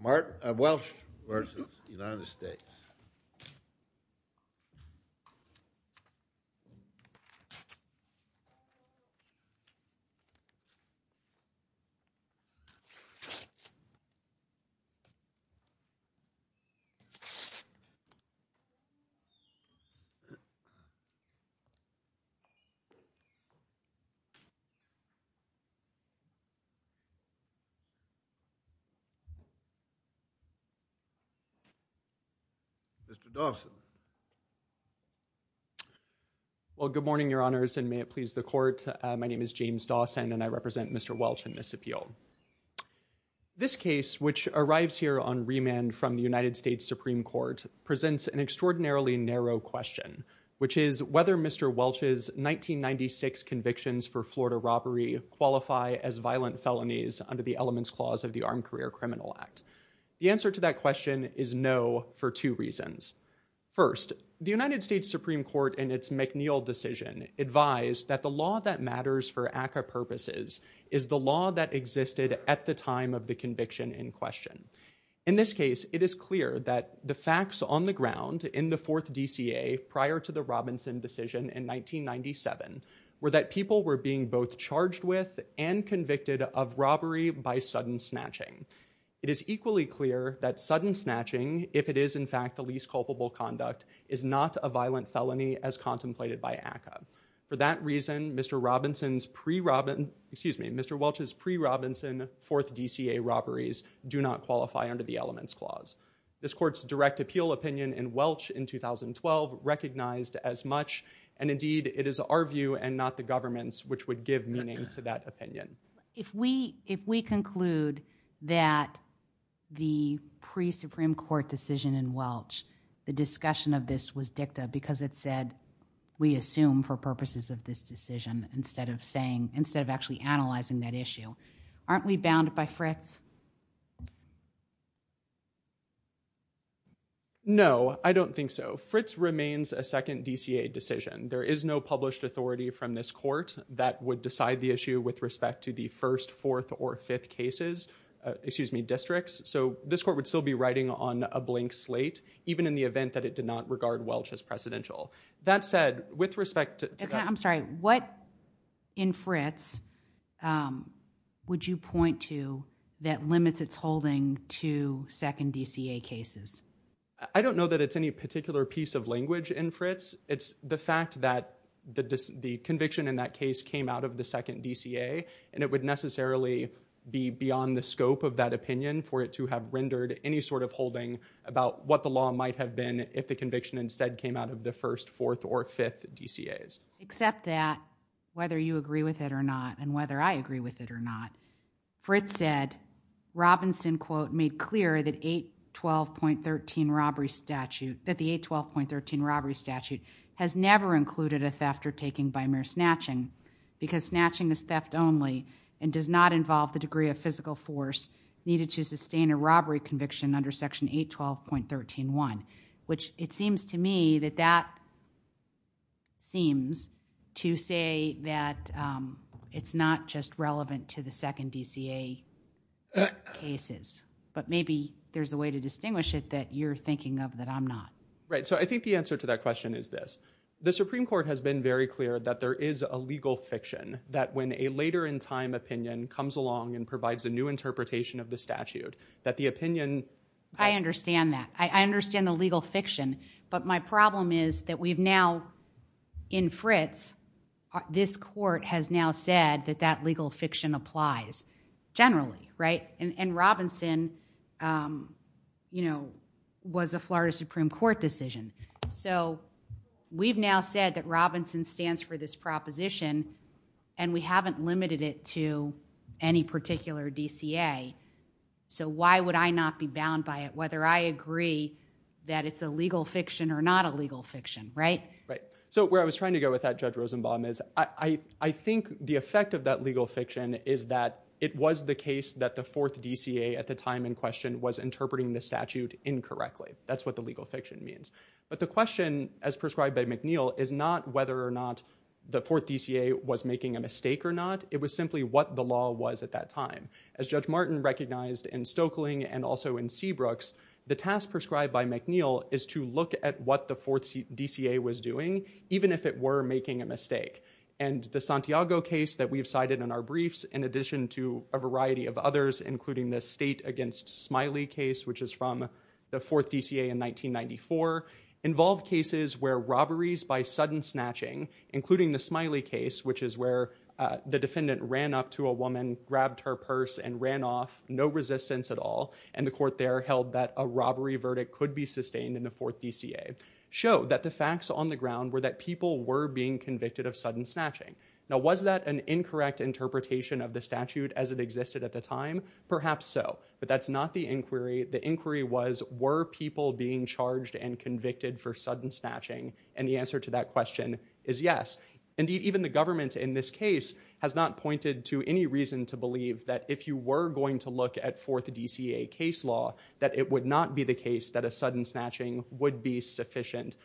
Mark Welch v. United States Mr. Dawson. Well, good morning, Your Honors, and may it please the Court. My name is James Dawson, and I represent Mr. Welch in this appeal. This case, which arrives here on remand from the United States Supreme Court, presents an extraordinarily narrow question, which is whether Mr. Welch's 1996 convictions for Florida robbery qualify as violent felonies under the Elements Clause of the Armed Career Criminal Act. The answer to that question is no for two reasons. First, the United States Supreme Court, in its McNeill decision, advised that the law that matters for ACCA purposes is the law that existed at the time of the conviction in question. In this case, it is clear that the facts on the ground in the fourth DCA prior to the Robinson decision in 1997 were that people were being both charged with and convicted of robbery by sudden snatching. It is equally clear that sudden snatching, if it is in fact the least culpable conduct, is not a violent felony as contemplated by ACCA. For that reason, Mr. Welch's pre-Robinson fourth DCA robberies do not qualify under the Elements Clause. This Court's direct appeal opinion in Welch in 2012 recognized as much, and indeed it is our view and not the government's which would give meaning to that opinion. If we conclude that the pre-Supreme Court decision in Welch, the discussion of this was dicta because it said we assume for purposes of this decision instead of actually analyzing that issue, aren't we bounded by Fritz? No, I don't think so. Fritz remains a second DCA decision. There is no published authority from this Court that would decide the issue with respect to the first, fourth, or fifth cases, excuse me, districts, so this Court would still be riding on a blank slate, even in the event that it did not regard Welch as precedential. I'm sorry, what in Fritz would you point to that limits its holding to second DCA cases? I don't know that it's any particular piece of language in Fritz. It's the fact that the conviction in that case came out of the second DCA, and it would necessarily be beyond the scope of that opinion for it to have rendered any sort of holding about what the law might have been if the conviction instead came out of the first, fourth, or fifth DCAs. Except that, whether you agree with it or not, and whether I agree with it or not, Fritz said, Robinson quote, made clear that 812.13 robbery statute, that the 812.13 robbery statute has never included a theft or taking by mere snatching, because snatching is theft only and does not involve the degree of physical force needed to sustain a robbery conviction under section 812.13.1, which it seems to me that that seems to say that it's not just relevant to the second DCA cases. But maybe there's a way to distinguish it that you're thinking of that I'm not. Right, so I think the answer to that question is this. The Supreme Court has been very clear that there is a legal fiction, that when a later in time opinion comes along and provides a new interpretation of the statute, that the opinion- I understand that. I understand the legal fiction. But my problem is that we've now, in Fritz, this court has now said that that legal fiction applies generally, right? And Robinson, you know, was a Florida Supreme Court decision. So we've now said that Robinson stands for this proposition, and we haven't limited it to any particular DCA. So why would I not be bound by it, whether I agree that it's a legal fiction or not a legal fiction, right? Right, so where I was trying to go with that, Judge Rosenbaum, is I think the effect of that legal fiction is that it was the case that the fourth DCA at the time in question was interpreting the statute incorrectly. That's what the legal fiction means. But the question, as prescribed by McNeil, is not whether or not the fourth DCA was making a mistake or not. It was simply what the law was at that time. As Judge Martin recognized in Stoeckling and also in Seabrooks, the task prescribed by McNeil is to look at what the fourth DCA was doing, even if it were making a mistake. And the Santiago case that we've cited in our briefs, in addition to a variety of others, including the State Against Smiley case, which is from the fourth DCA in 1994, involved cases where robberies by sudden snatching, including the Smiley case, which is where the defendant ran up to a woman, grabbed her purse, and ran off, no resistance at all, and the court there held that a robbery verdict could be sustained in the fourth DCA, showed that the facts on the ground were that people were being convicted of sudden snatching. Now, was that an incorrect interpretation of the statute as it existed at the time? Perhaps so, but that's not the inquiry. The inquiry was, were people being charged and convicted for sudden snatching? And the answer to that question is yes. Indeed, even the government in this case has not pointed to any reason to believe that if you were going to look at fourth DCA case law, that it would not be the case that a sudden snatching would be sufficient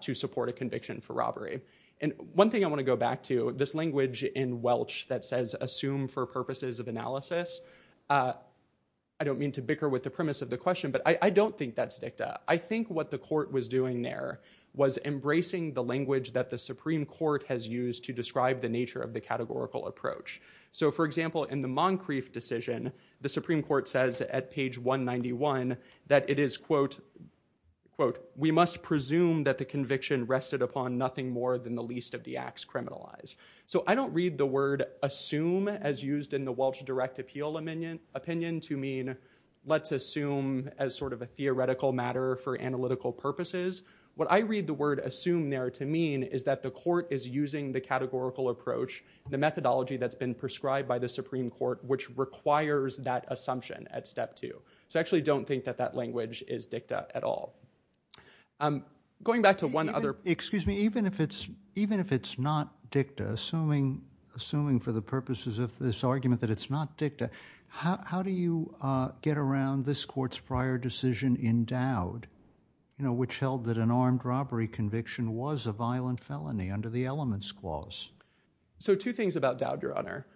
to support a conviction for robbery. And one thing I want to go back to, this language in Welch that says, assume for purposes of analysis, I don't mean to bicker with the premise of the question, but I don't think that's dicta. I think what the court was doing there was embracing the language that the Supreme Court has used to describe the nature of the categorical approach. So, for example, in the Moncrief decision, the Supreme Court says at page 191 that it is, quote, we must presume that the conviction rested upon nothing more than the least of the acts criminalized. So I don't read the word assume as used in the Welch direct appeal opinion to mean, let's assume as sort of a theoretical matter for analytical purposes. What I read the word assume there to mean is that the court is using the categorical approach, the methodology that's been prescribed by the Supreme Court, which requires that assumption at step two. So I actually don't think that that language is dicta at all. Going back to one other point. Excuse me. Even if it's not dicta, assuming for the purposes of this argument that it's not dicta, how do you get around this court's prior decision in Dowd, you know, which held that an armed robbery conviction was a violent felony under the Elements Clause? So two things about Dowd, Your Honor.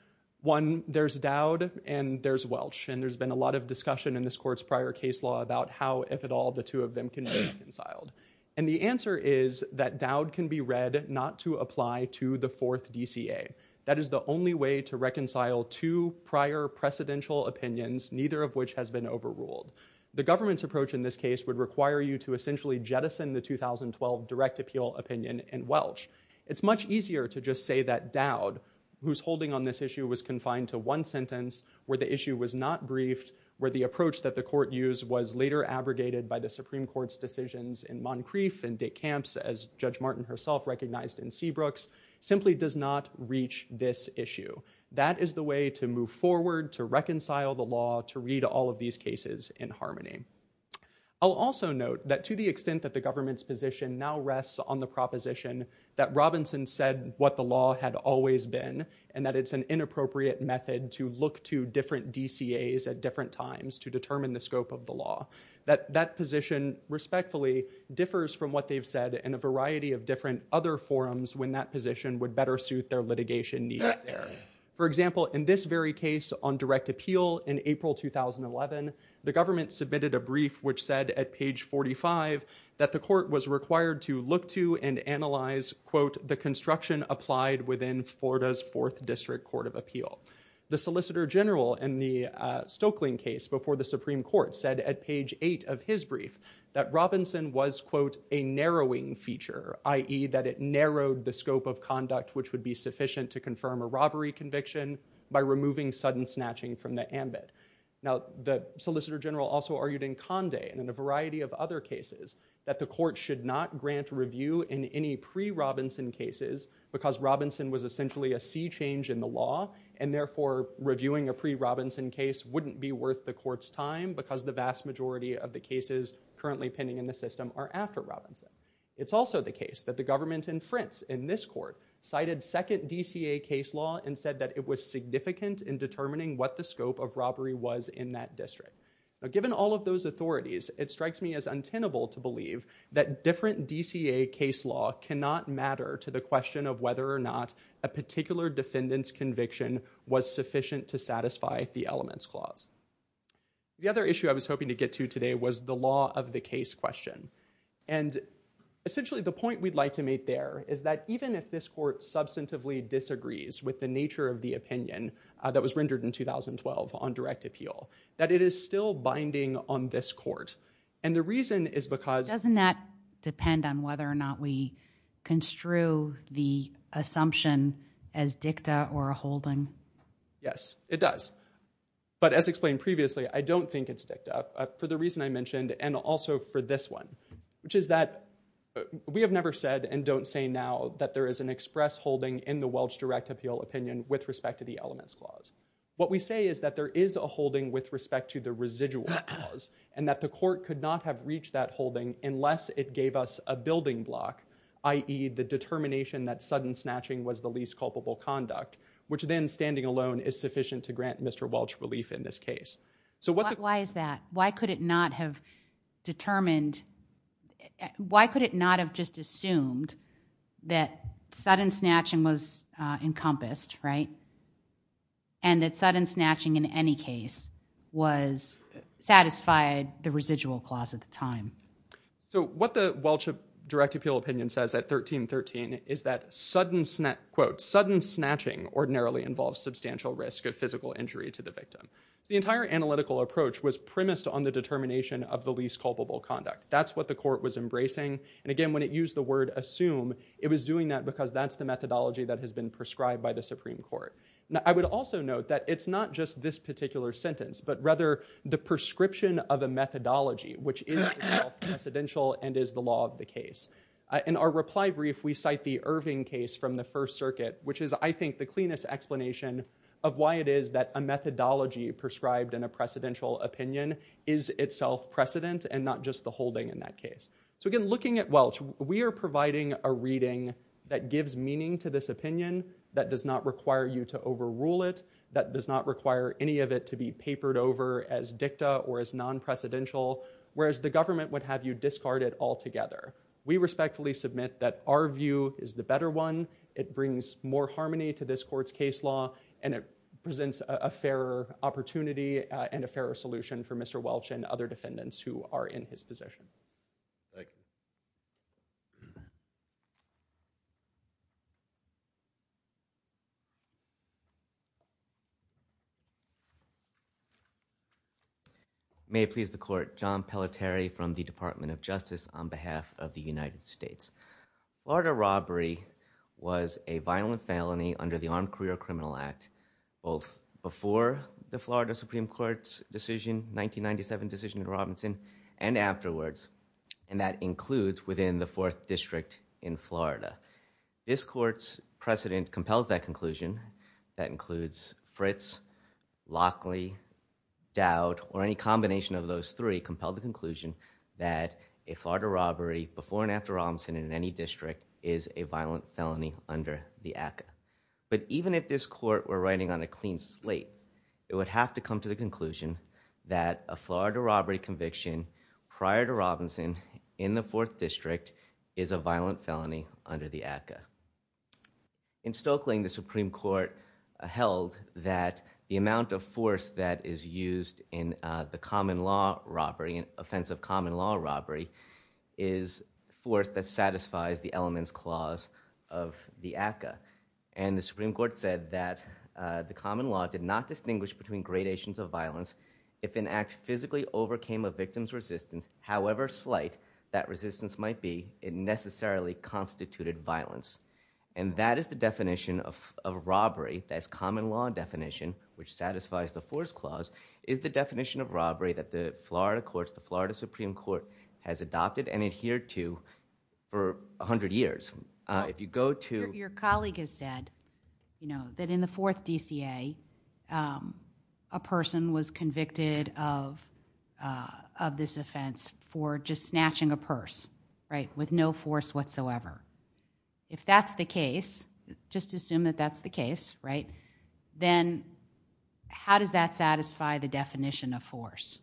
One, there's Dowd and there's Welch, and there's been a lot of discussion in this court's prior case law about how, if at all, the two of them can be reconciled. And the answer is that Dowd can be read not to apply to the fourth DCA. That is the only way to reconcile two prior precedential opinions, neither of which has been overruled. The government's approach in this case would require you to essentially jettison the 2012 direct appeal opinion in Welch. It's much easier to just say that Dowd, whose holding on this issue was confined to one sentence, where the issue was not briefed, where the approach that the court used was later abrogated by the Supreme Court's decisions in Moncrief and Dick Camps, as Judge Martin herself recognized in Seabrooks, simply does not reach this issue. That is the way to move forward, to reconcile the law, to read all of these cases in harmony. I'll also note that to the extent that the government's position now rests on the proposition that Robinson said what the law had always been and that it's an inappropriate method to look to different DCAs at different times to determine the scope of the law, that that position respectfully differs from what they've said in a variety of different other forums when that position would better suit their litigation needs there. For example, in this very case on direct appeal in April 2011, the government submitted a brief which said at page 45 that the court was required to look to and analyze quote, the construction applied within Florida's 4th District Court of Appeal. The Solicitor General in the Stokelyn case before the Supreme Court said at page 8 of his brief that Robinson was quote, a narrowing feature, i.e. that it narrowed the scope of conduct which would be sufficient to confirm a robbery conviction by removing sudden snatching from the ambit. Now, the Solicitor General also argued in Condé and in a variety of other cases that the court should not grant review in any pre-Robinson cases because Robinson was essentially a sea change in the law and therefore reviewing a pre-Robinson case wouldn't be worth the court's time because the vast majority of the cases currently pending in the system are after Robinson. It's also the case that the government in France in this court cited second DCA case law and said that it was significant in determining what the scope of robbery was in that district. Now, given all of those authorities, it strikes me as untenable to believe that different DCA case law cannot matter to the question of whether or not a particular defendant's conviction was sufficient to satisfy the elements clause. The other issue I was hoping to get to today was the law of the case question. And essentially the point we'd like to make there is that even if this court substantively disagrees with the nature of the opinion, that was rendered in 2012 on direct appeal, that it is still binding on this court. And the reason is because... Doesn't that depend on whether or not we construe the assumption as dicta or a holding? Yes, it does. But as explained previously, I don't think it's dicta for the reason I mentioned and also for this one, which is that we have never said and don't say now that there is an express holding in the Welch direct appeal opinion with respect to the elements clause. What we say is that there is a holding with respect to the residual clause and that the court could not have reached that holding unless it gave us a building block, i.e. the determination that sudden snatching was the least culpable conduct, which then standing alone is sufficient to grant Mr. Welch relief in this case. Why is that? Why could it not have determined... Why could it not have just assumed that sudden snatching was encompassed, right, and that sudden snatching in any case was satisfied the residual clause at the time? So what the Welch direct appeal opinion says at 1313 is that, quote, sudden snatching ordinarily involves substantial risk of physical injury to the victim. The entire analytical approach was premised on the determination of the least culpable conduct. That's what the court was embracing, and, again, when it used the word assume, it was doing that because that's the methodology that has been prescribed by the Supreme Court. Now, I would also note that it's not just this particular sentence, but rather the prescription of a methodology, which is itself precedential and is the law of the case. In our reply brief, we cite the Irving case from the First Circuit, which is, I think, the cleanest explanation of why it is that a methodology prescribed in a precedential opinion is itself precedent and not just the holding in that case. So, again, looking at Welch, we are providing a reading that gives meaning to this opinion, that does not require you to overrule it, that does not require any of it to be papered over as dicta or as non-precedential, whereas the government would have you discard it altogether. We respectfully submit that our view is the better one. It brings more harmony to this court's case law, and it presents a fairer opportunity and a fairer solution for Mr. Welch and other defendants who are in his position. Thank you. May it please the court. John Pelleteri from the Department of Justice on behalf of the United States. Florida robbery was a violent felony under the Armed Career Criminal Act, both before the Florida Supreme Court's decision, 1997 decision in Robinson, and afterwards, and that includes within the Fourth District in Florida. This court's precedent compels that conclusion, that includes Fritz, Lockley, Dowd, or any combination of those three compel the conclusion that a Florida robbery before and after Robinson in any district is a violent felony under the ACCA. But even if this court were writing on a clean slate, it would have to come to the conclusion that a Florida robbery conviction prior to Robinson in the Fourth District is a violent felony under the ACCA. In Stokeling, the Supreme Court held that the amount of force that is used in the common law robbery, offensive common law robbery, is force that satisfies the elements clause of the ACCA. And the Supreme Court said that the common law did not distinguish between gradations of violence if an act physically overcame a victim's resistance, however slight that resistance might be, it necessarily constituted violence. And that is the definition of robbery, that's common law definition, which satisfies the force clause, is the definition of robbery that the Florida courts, the Florida Supreme Court, has adopted and adhered to for 100 years. If you go to... Your colleague has said that in the Fourth DCA, a person was convicted of this offense for just snatching a purse, right, with no force whatsoever. If that's the case, just assume that that's the case, right, then how does that satisfy the definition of force?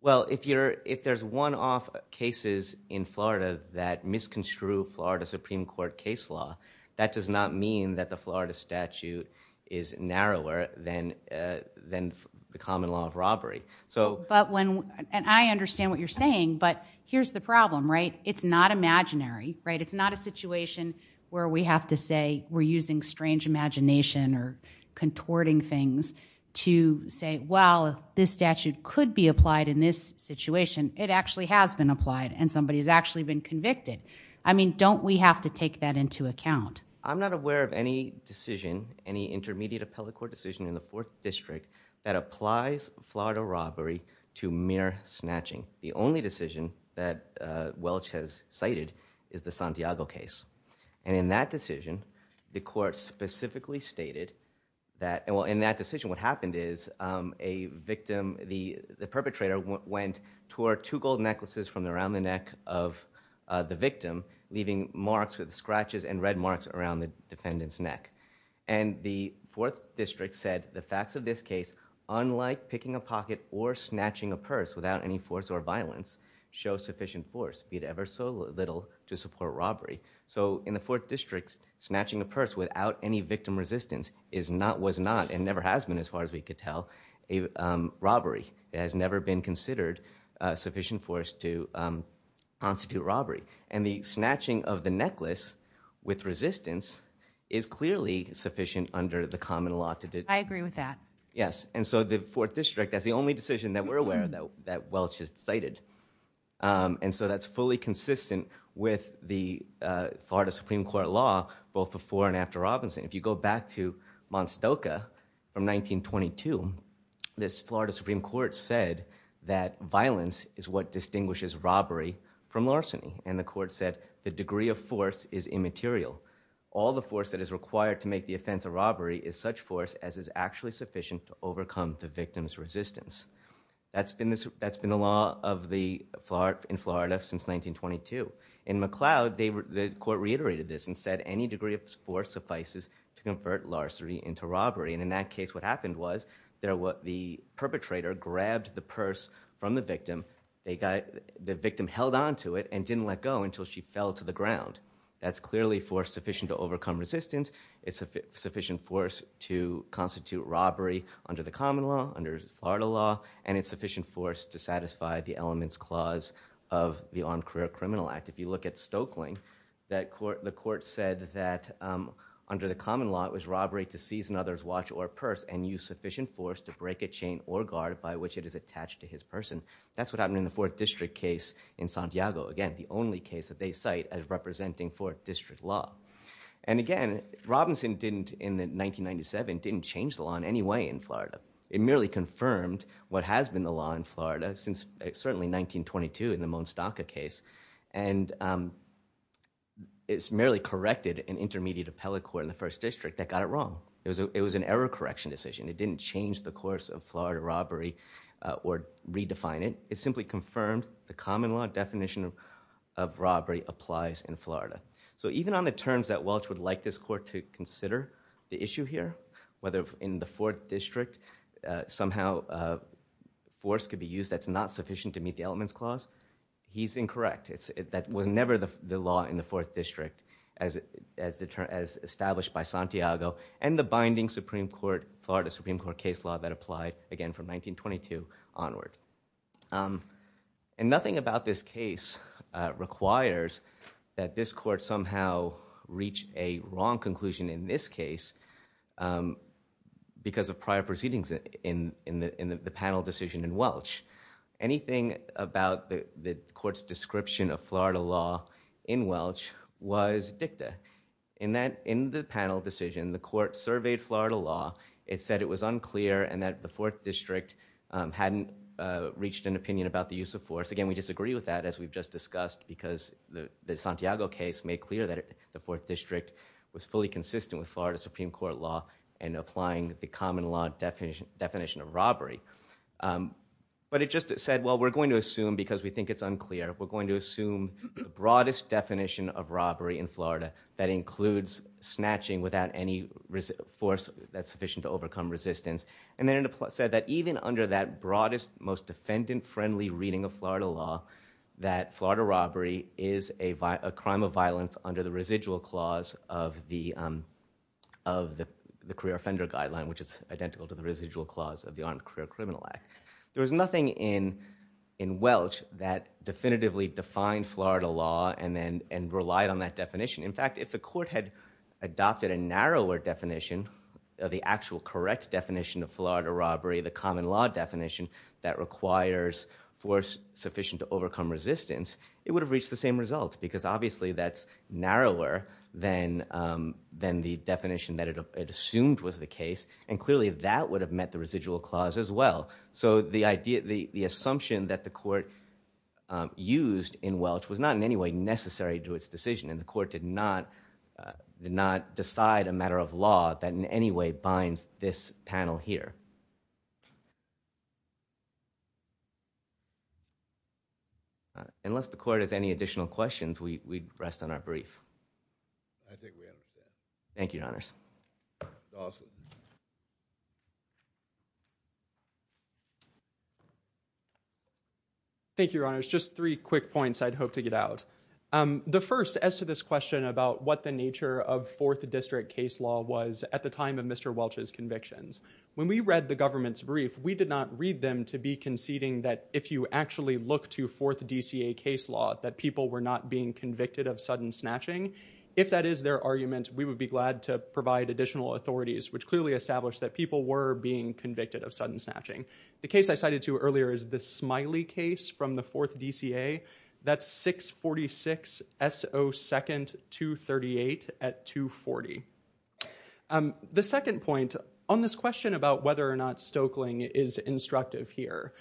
Well, if there's one-off cases in Florida that misconstrue Florida Supreme Court case law, that does not mean that the Florida statute is narrower than the common law of robbery. But when... And I understand what you're saying, but here's the problem, right? It's not imaginary, right? Or we have to say we're using strange imagination or contorting things to say, well, if this statute could be applied in this situation, it actually has been applied and somebody's actually been convicted. I mean, don't we have to take that into account? I'm not aware of any decision, any intermediate appellate court decision in the Fourth District that applies Florida robbery to mere snatching. The only decision that Welch has cited is the Santiago case. And in that decision, the court specifically stated that... Well, in that decision, what happened is a victim, the perpetrator, went toward two gold necklaces from around the neck of the victim, leaving marks with scratches and red marks around the defendant's neck. And the Fourth District said the facts of this case, unlike picking a pocket or snatching a purse without any force or violence, show sufficient force, be it ever so little, to support robbery. So in the Fourth District, snatching a purse without any victim resistance was not and never has been, as far as we could tell, a robbery. It has never been considered sufficient force to constitute robbery. And the snatching of the necklace with resistance is clearly sufficient under the common law to do that. I agree with that. Yes, and so the Fourth District, that's the only decision that we're aware of that Welch has cited. And so that's fully consistent with the Florida Supreme Court law, both before and after Robinson. If you go back to Monstoca from 1922, this Florida Supreme Court said that violence is what distinguishes robbery from larceny. And the court said the degree of force is immaterial. All the force that is required to make the offense a robbery is such force as is actually sufficient to overcome the victim's resistance. That's been the law in Florida since 1922. In McLeod, the court reiterated this and said any degree of force suffices to convert larceny into robbery. And in that case, what happened was the perpetrator grabbed the purse from the victim, the victim held onto it, and didn't let go until she fell to the ground. That's clearly force sufficient to overcome resistance. It's sufficient force to constitute robbery under the common law, under Florida law, and it's sufficient force to satisfy the elements clause of the Armed Career Criminal Act. If you look at Stokely, the court said that under the common law it was robbery to seize another's watch or purse and use sufficient force to break a chain or guard by which it is attached to his person. That's what happened in the Fourth District case in Santiago. Again, the only case that they cite as representing Fourth District law. And again, Robinson in 1997 didn't change the law in any way in Florida. It merely confirmed what has been the law in Florida since certainly 1922 in the Monstaca case. And it's merely corrected an intermediate appellate court in the First District that got it wrong. It was an error correction decision. It didn't change the course of Florida robbery or redefine it. It simply confirmed the common law definition of robbery applies in Florida. So even on the terms that Welch would like this court to consider the issue here, whether in the Fourth District somehow force could be used that's not sufficient to meet the elements clause, he's incorrect. That was never the law in the Fourth District as established by Santiago and the binding Florida Supreme Court case law that applied again from 1922 onward. And nothing about this case requires that this court somehow reach a wrong conclusion in this case because of prior proceedings in the panel decision in Welch. Anything about the court's description of Florida law in Welch was dicta. In the panel decision, the court surveyed Florida law. It said it was unclear and that the Fourth District hadn't reached an opinion about the use of force. Again, we disagree with that as we've just discussed because the Santiago case made clear that the Fourth District was fully consistent with Florida Supreme Court law and applying the common law definition of robbery. But it just said, well, we're going to assume because we think it's unclear, we're going to assume the broadest definition of robbery in Florida that includes snatching without any force that's sufficient to overcome resistance. And then it said that even under that broadest, most defendant-friendly reading of Florida law, that Florida robbery is a crime of violence under the residual clause of the Career Offender Guideline, which is identical to the residual clause of the Armed Career Criminal Act. There was nothing in Welch that definitively defined Florida law and relied on that definition. In fact, if the court had adopted a narrower definition of the actual correct definition of Florida robbery, the common law definition that requires force sufficient to overcome resistance, it would have reached the same results because obviously that's narrower than the definition that it assumed was the case, and clearly that would have met the residual clause as well. So the assumption that the court used in Welch was not in any way necessary to its decision, and the court did not decide a matter of law that in any way binds this panel here. Unless the court has any additional questions, we'd rest on our brief. I think we understand. Thank you, Your Honors. Awesome. Thank you, Your Honors. Just three quick points I'd hope to get out. The first, as to this question about what the nature of Fourth District case law was at the time of Mr. Welch's convictions. When we read the government's brief, we did not read them to be conceding that if you actually look to Fourth D.C.A. case law, that people were not being convicted of sudden snatching. If that is their argument, we would be glad to provide additional authorities, which clearly established that people were being convicted of sudden snatching. The case I cited to you earlier is the Smiley case from the Fourth D.C.A. That's 646 S.O. 2nd, 238 at 240. The second point, on this question about whether or not Stoeckling is instructive here.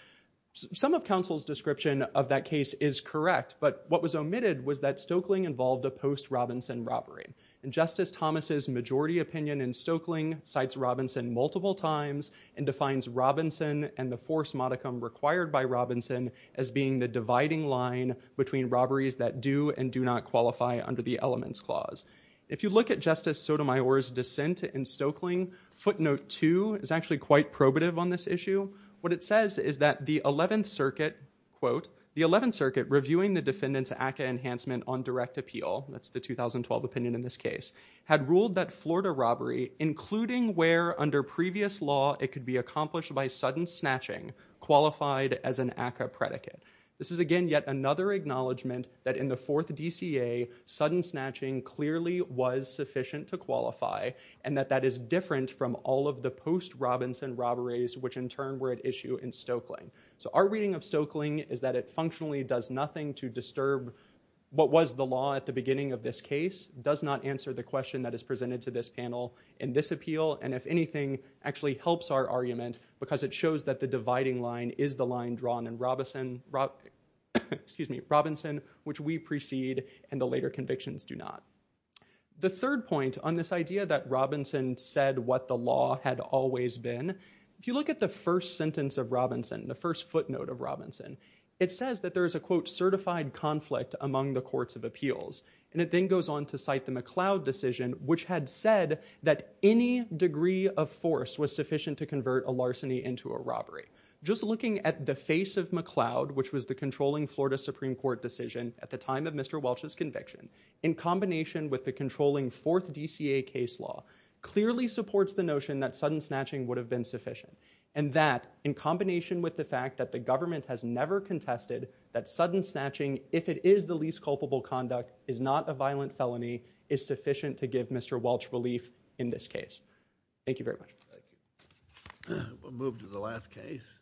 Some of counsel's description of that case is correct, but what was omitted was that Stoeckling involved a post-Robinson robbery. And Justice Thomas' majority opinion in Stoeckling cites Robinson multiple times and defines Robinson and the force modicum required by Robinson as being the dividing line between robberies that do and do not qualify under the elements clause. If you look at Justice Sotomayor's dissent in Stoeckling, footnote two is actually quite probative on this issue. What it says is that the 11th Circuit, quote, the 11th Circuit reviewing the defendant's ACCA enhancement on direct appeal, that's the 2012 opinion in this case, had ruled that Florida robbery, including where under previous law it could be accomplished by sudden snatching, qualified as an ACCA predicate. This is, again, yet another acknowledgement that in the 4th D.C.A., sudden snatching clearly was sufficient to qualify and that that is different from all of the post-Robinson robberies, which in turn were at issue in Stoeckling. So our reading of Stoeckling is that it functionally does nothing to disturb what was the law at the beginning of this case, does not answer the question that is presented to this panel in this appeal, and if anything, actually helps our argument because it shows that the dividing line is the line drawn in Robinson, which we precede and the later convictions do not. The third point on this idea that Robinson said what the law had always been, if you look at the first sentence of Robinson, the first footnote of Robinson, it says that there is a, quote, certified conflict among the courts of appeals. And it then goes on to cite the McLeod decision, which had said that any degree of force was sufficient to convert a larceny into a robbery. Just looking at the face of McLeod, which was the controlling Florida Supreme Court decision at the time of Mr. Welch's conviction, in combination with the controlling 4th DCA case law, clearly supports the notion that sudden snatching would have been sufficient and that in combination with the fact that the government has never contested that sudden snatching, if it is the least culpable conduct, is not a violent felony, is sufficient to give Mr. Welch relief in this case. Thank you very much. Thank you. We'll move to the last case.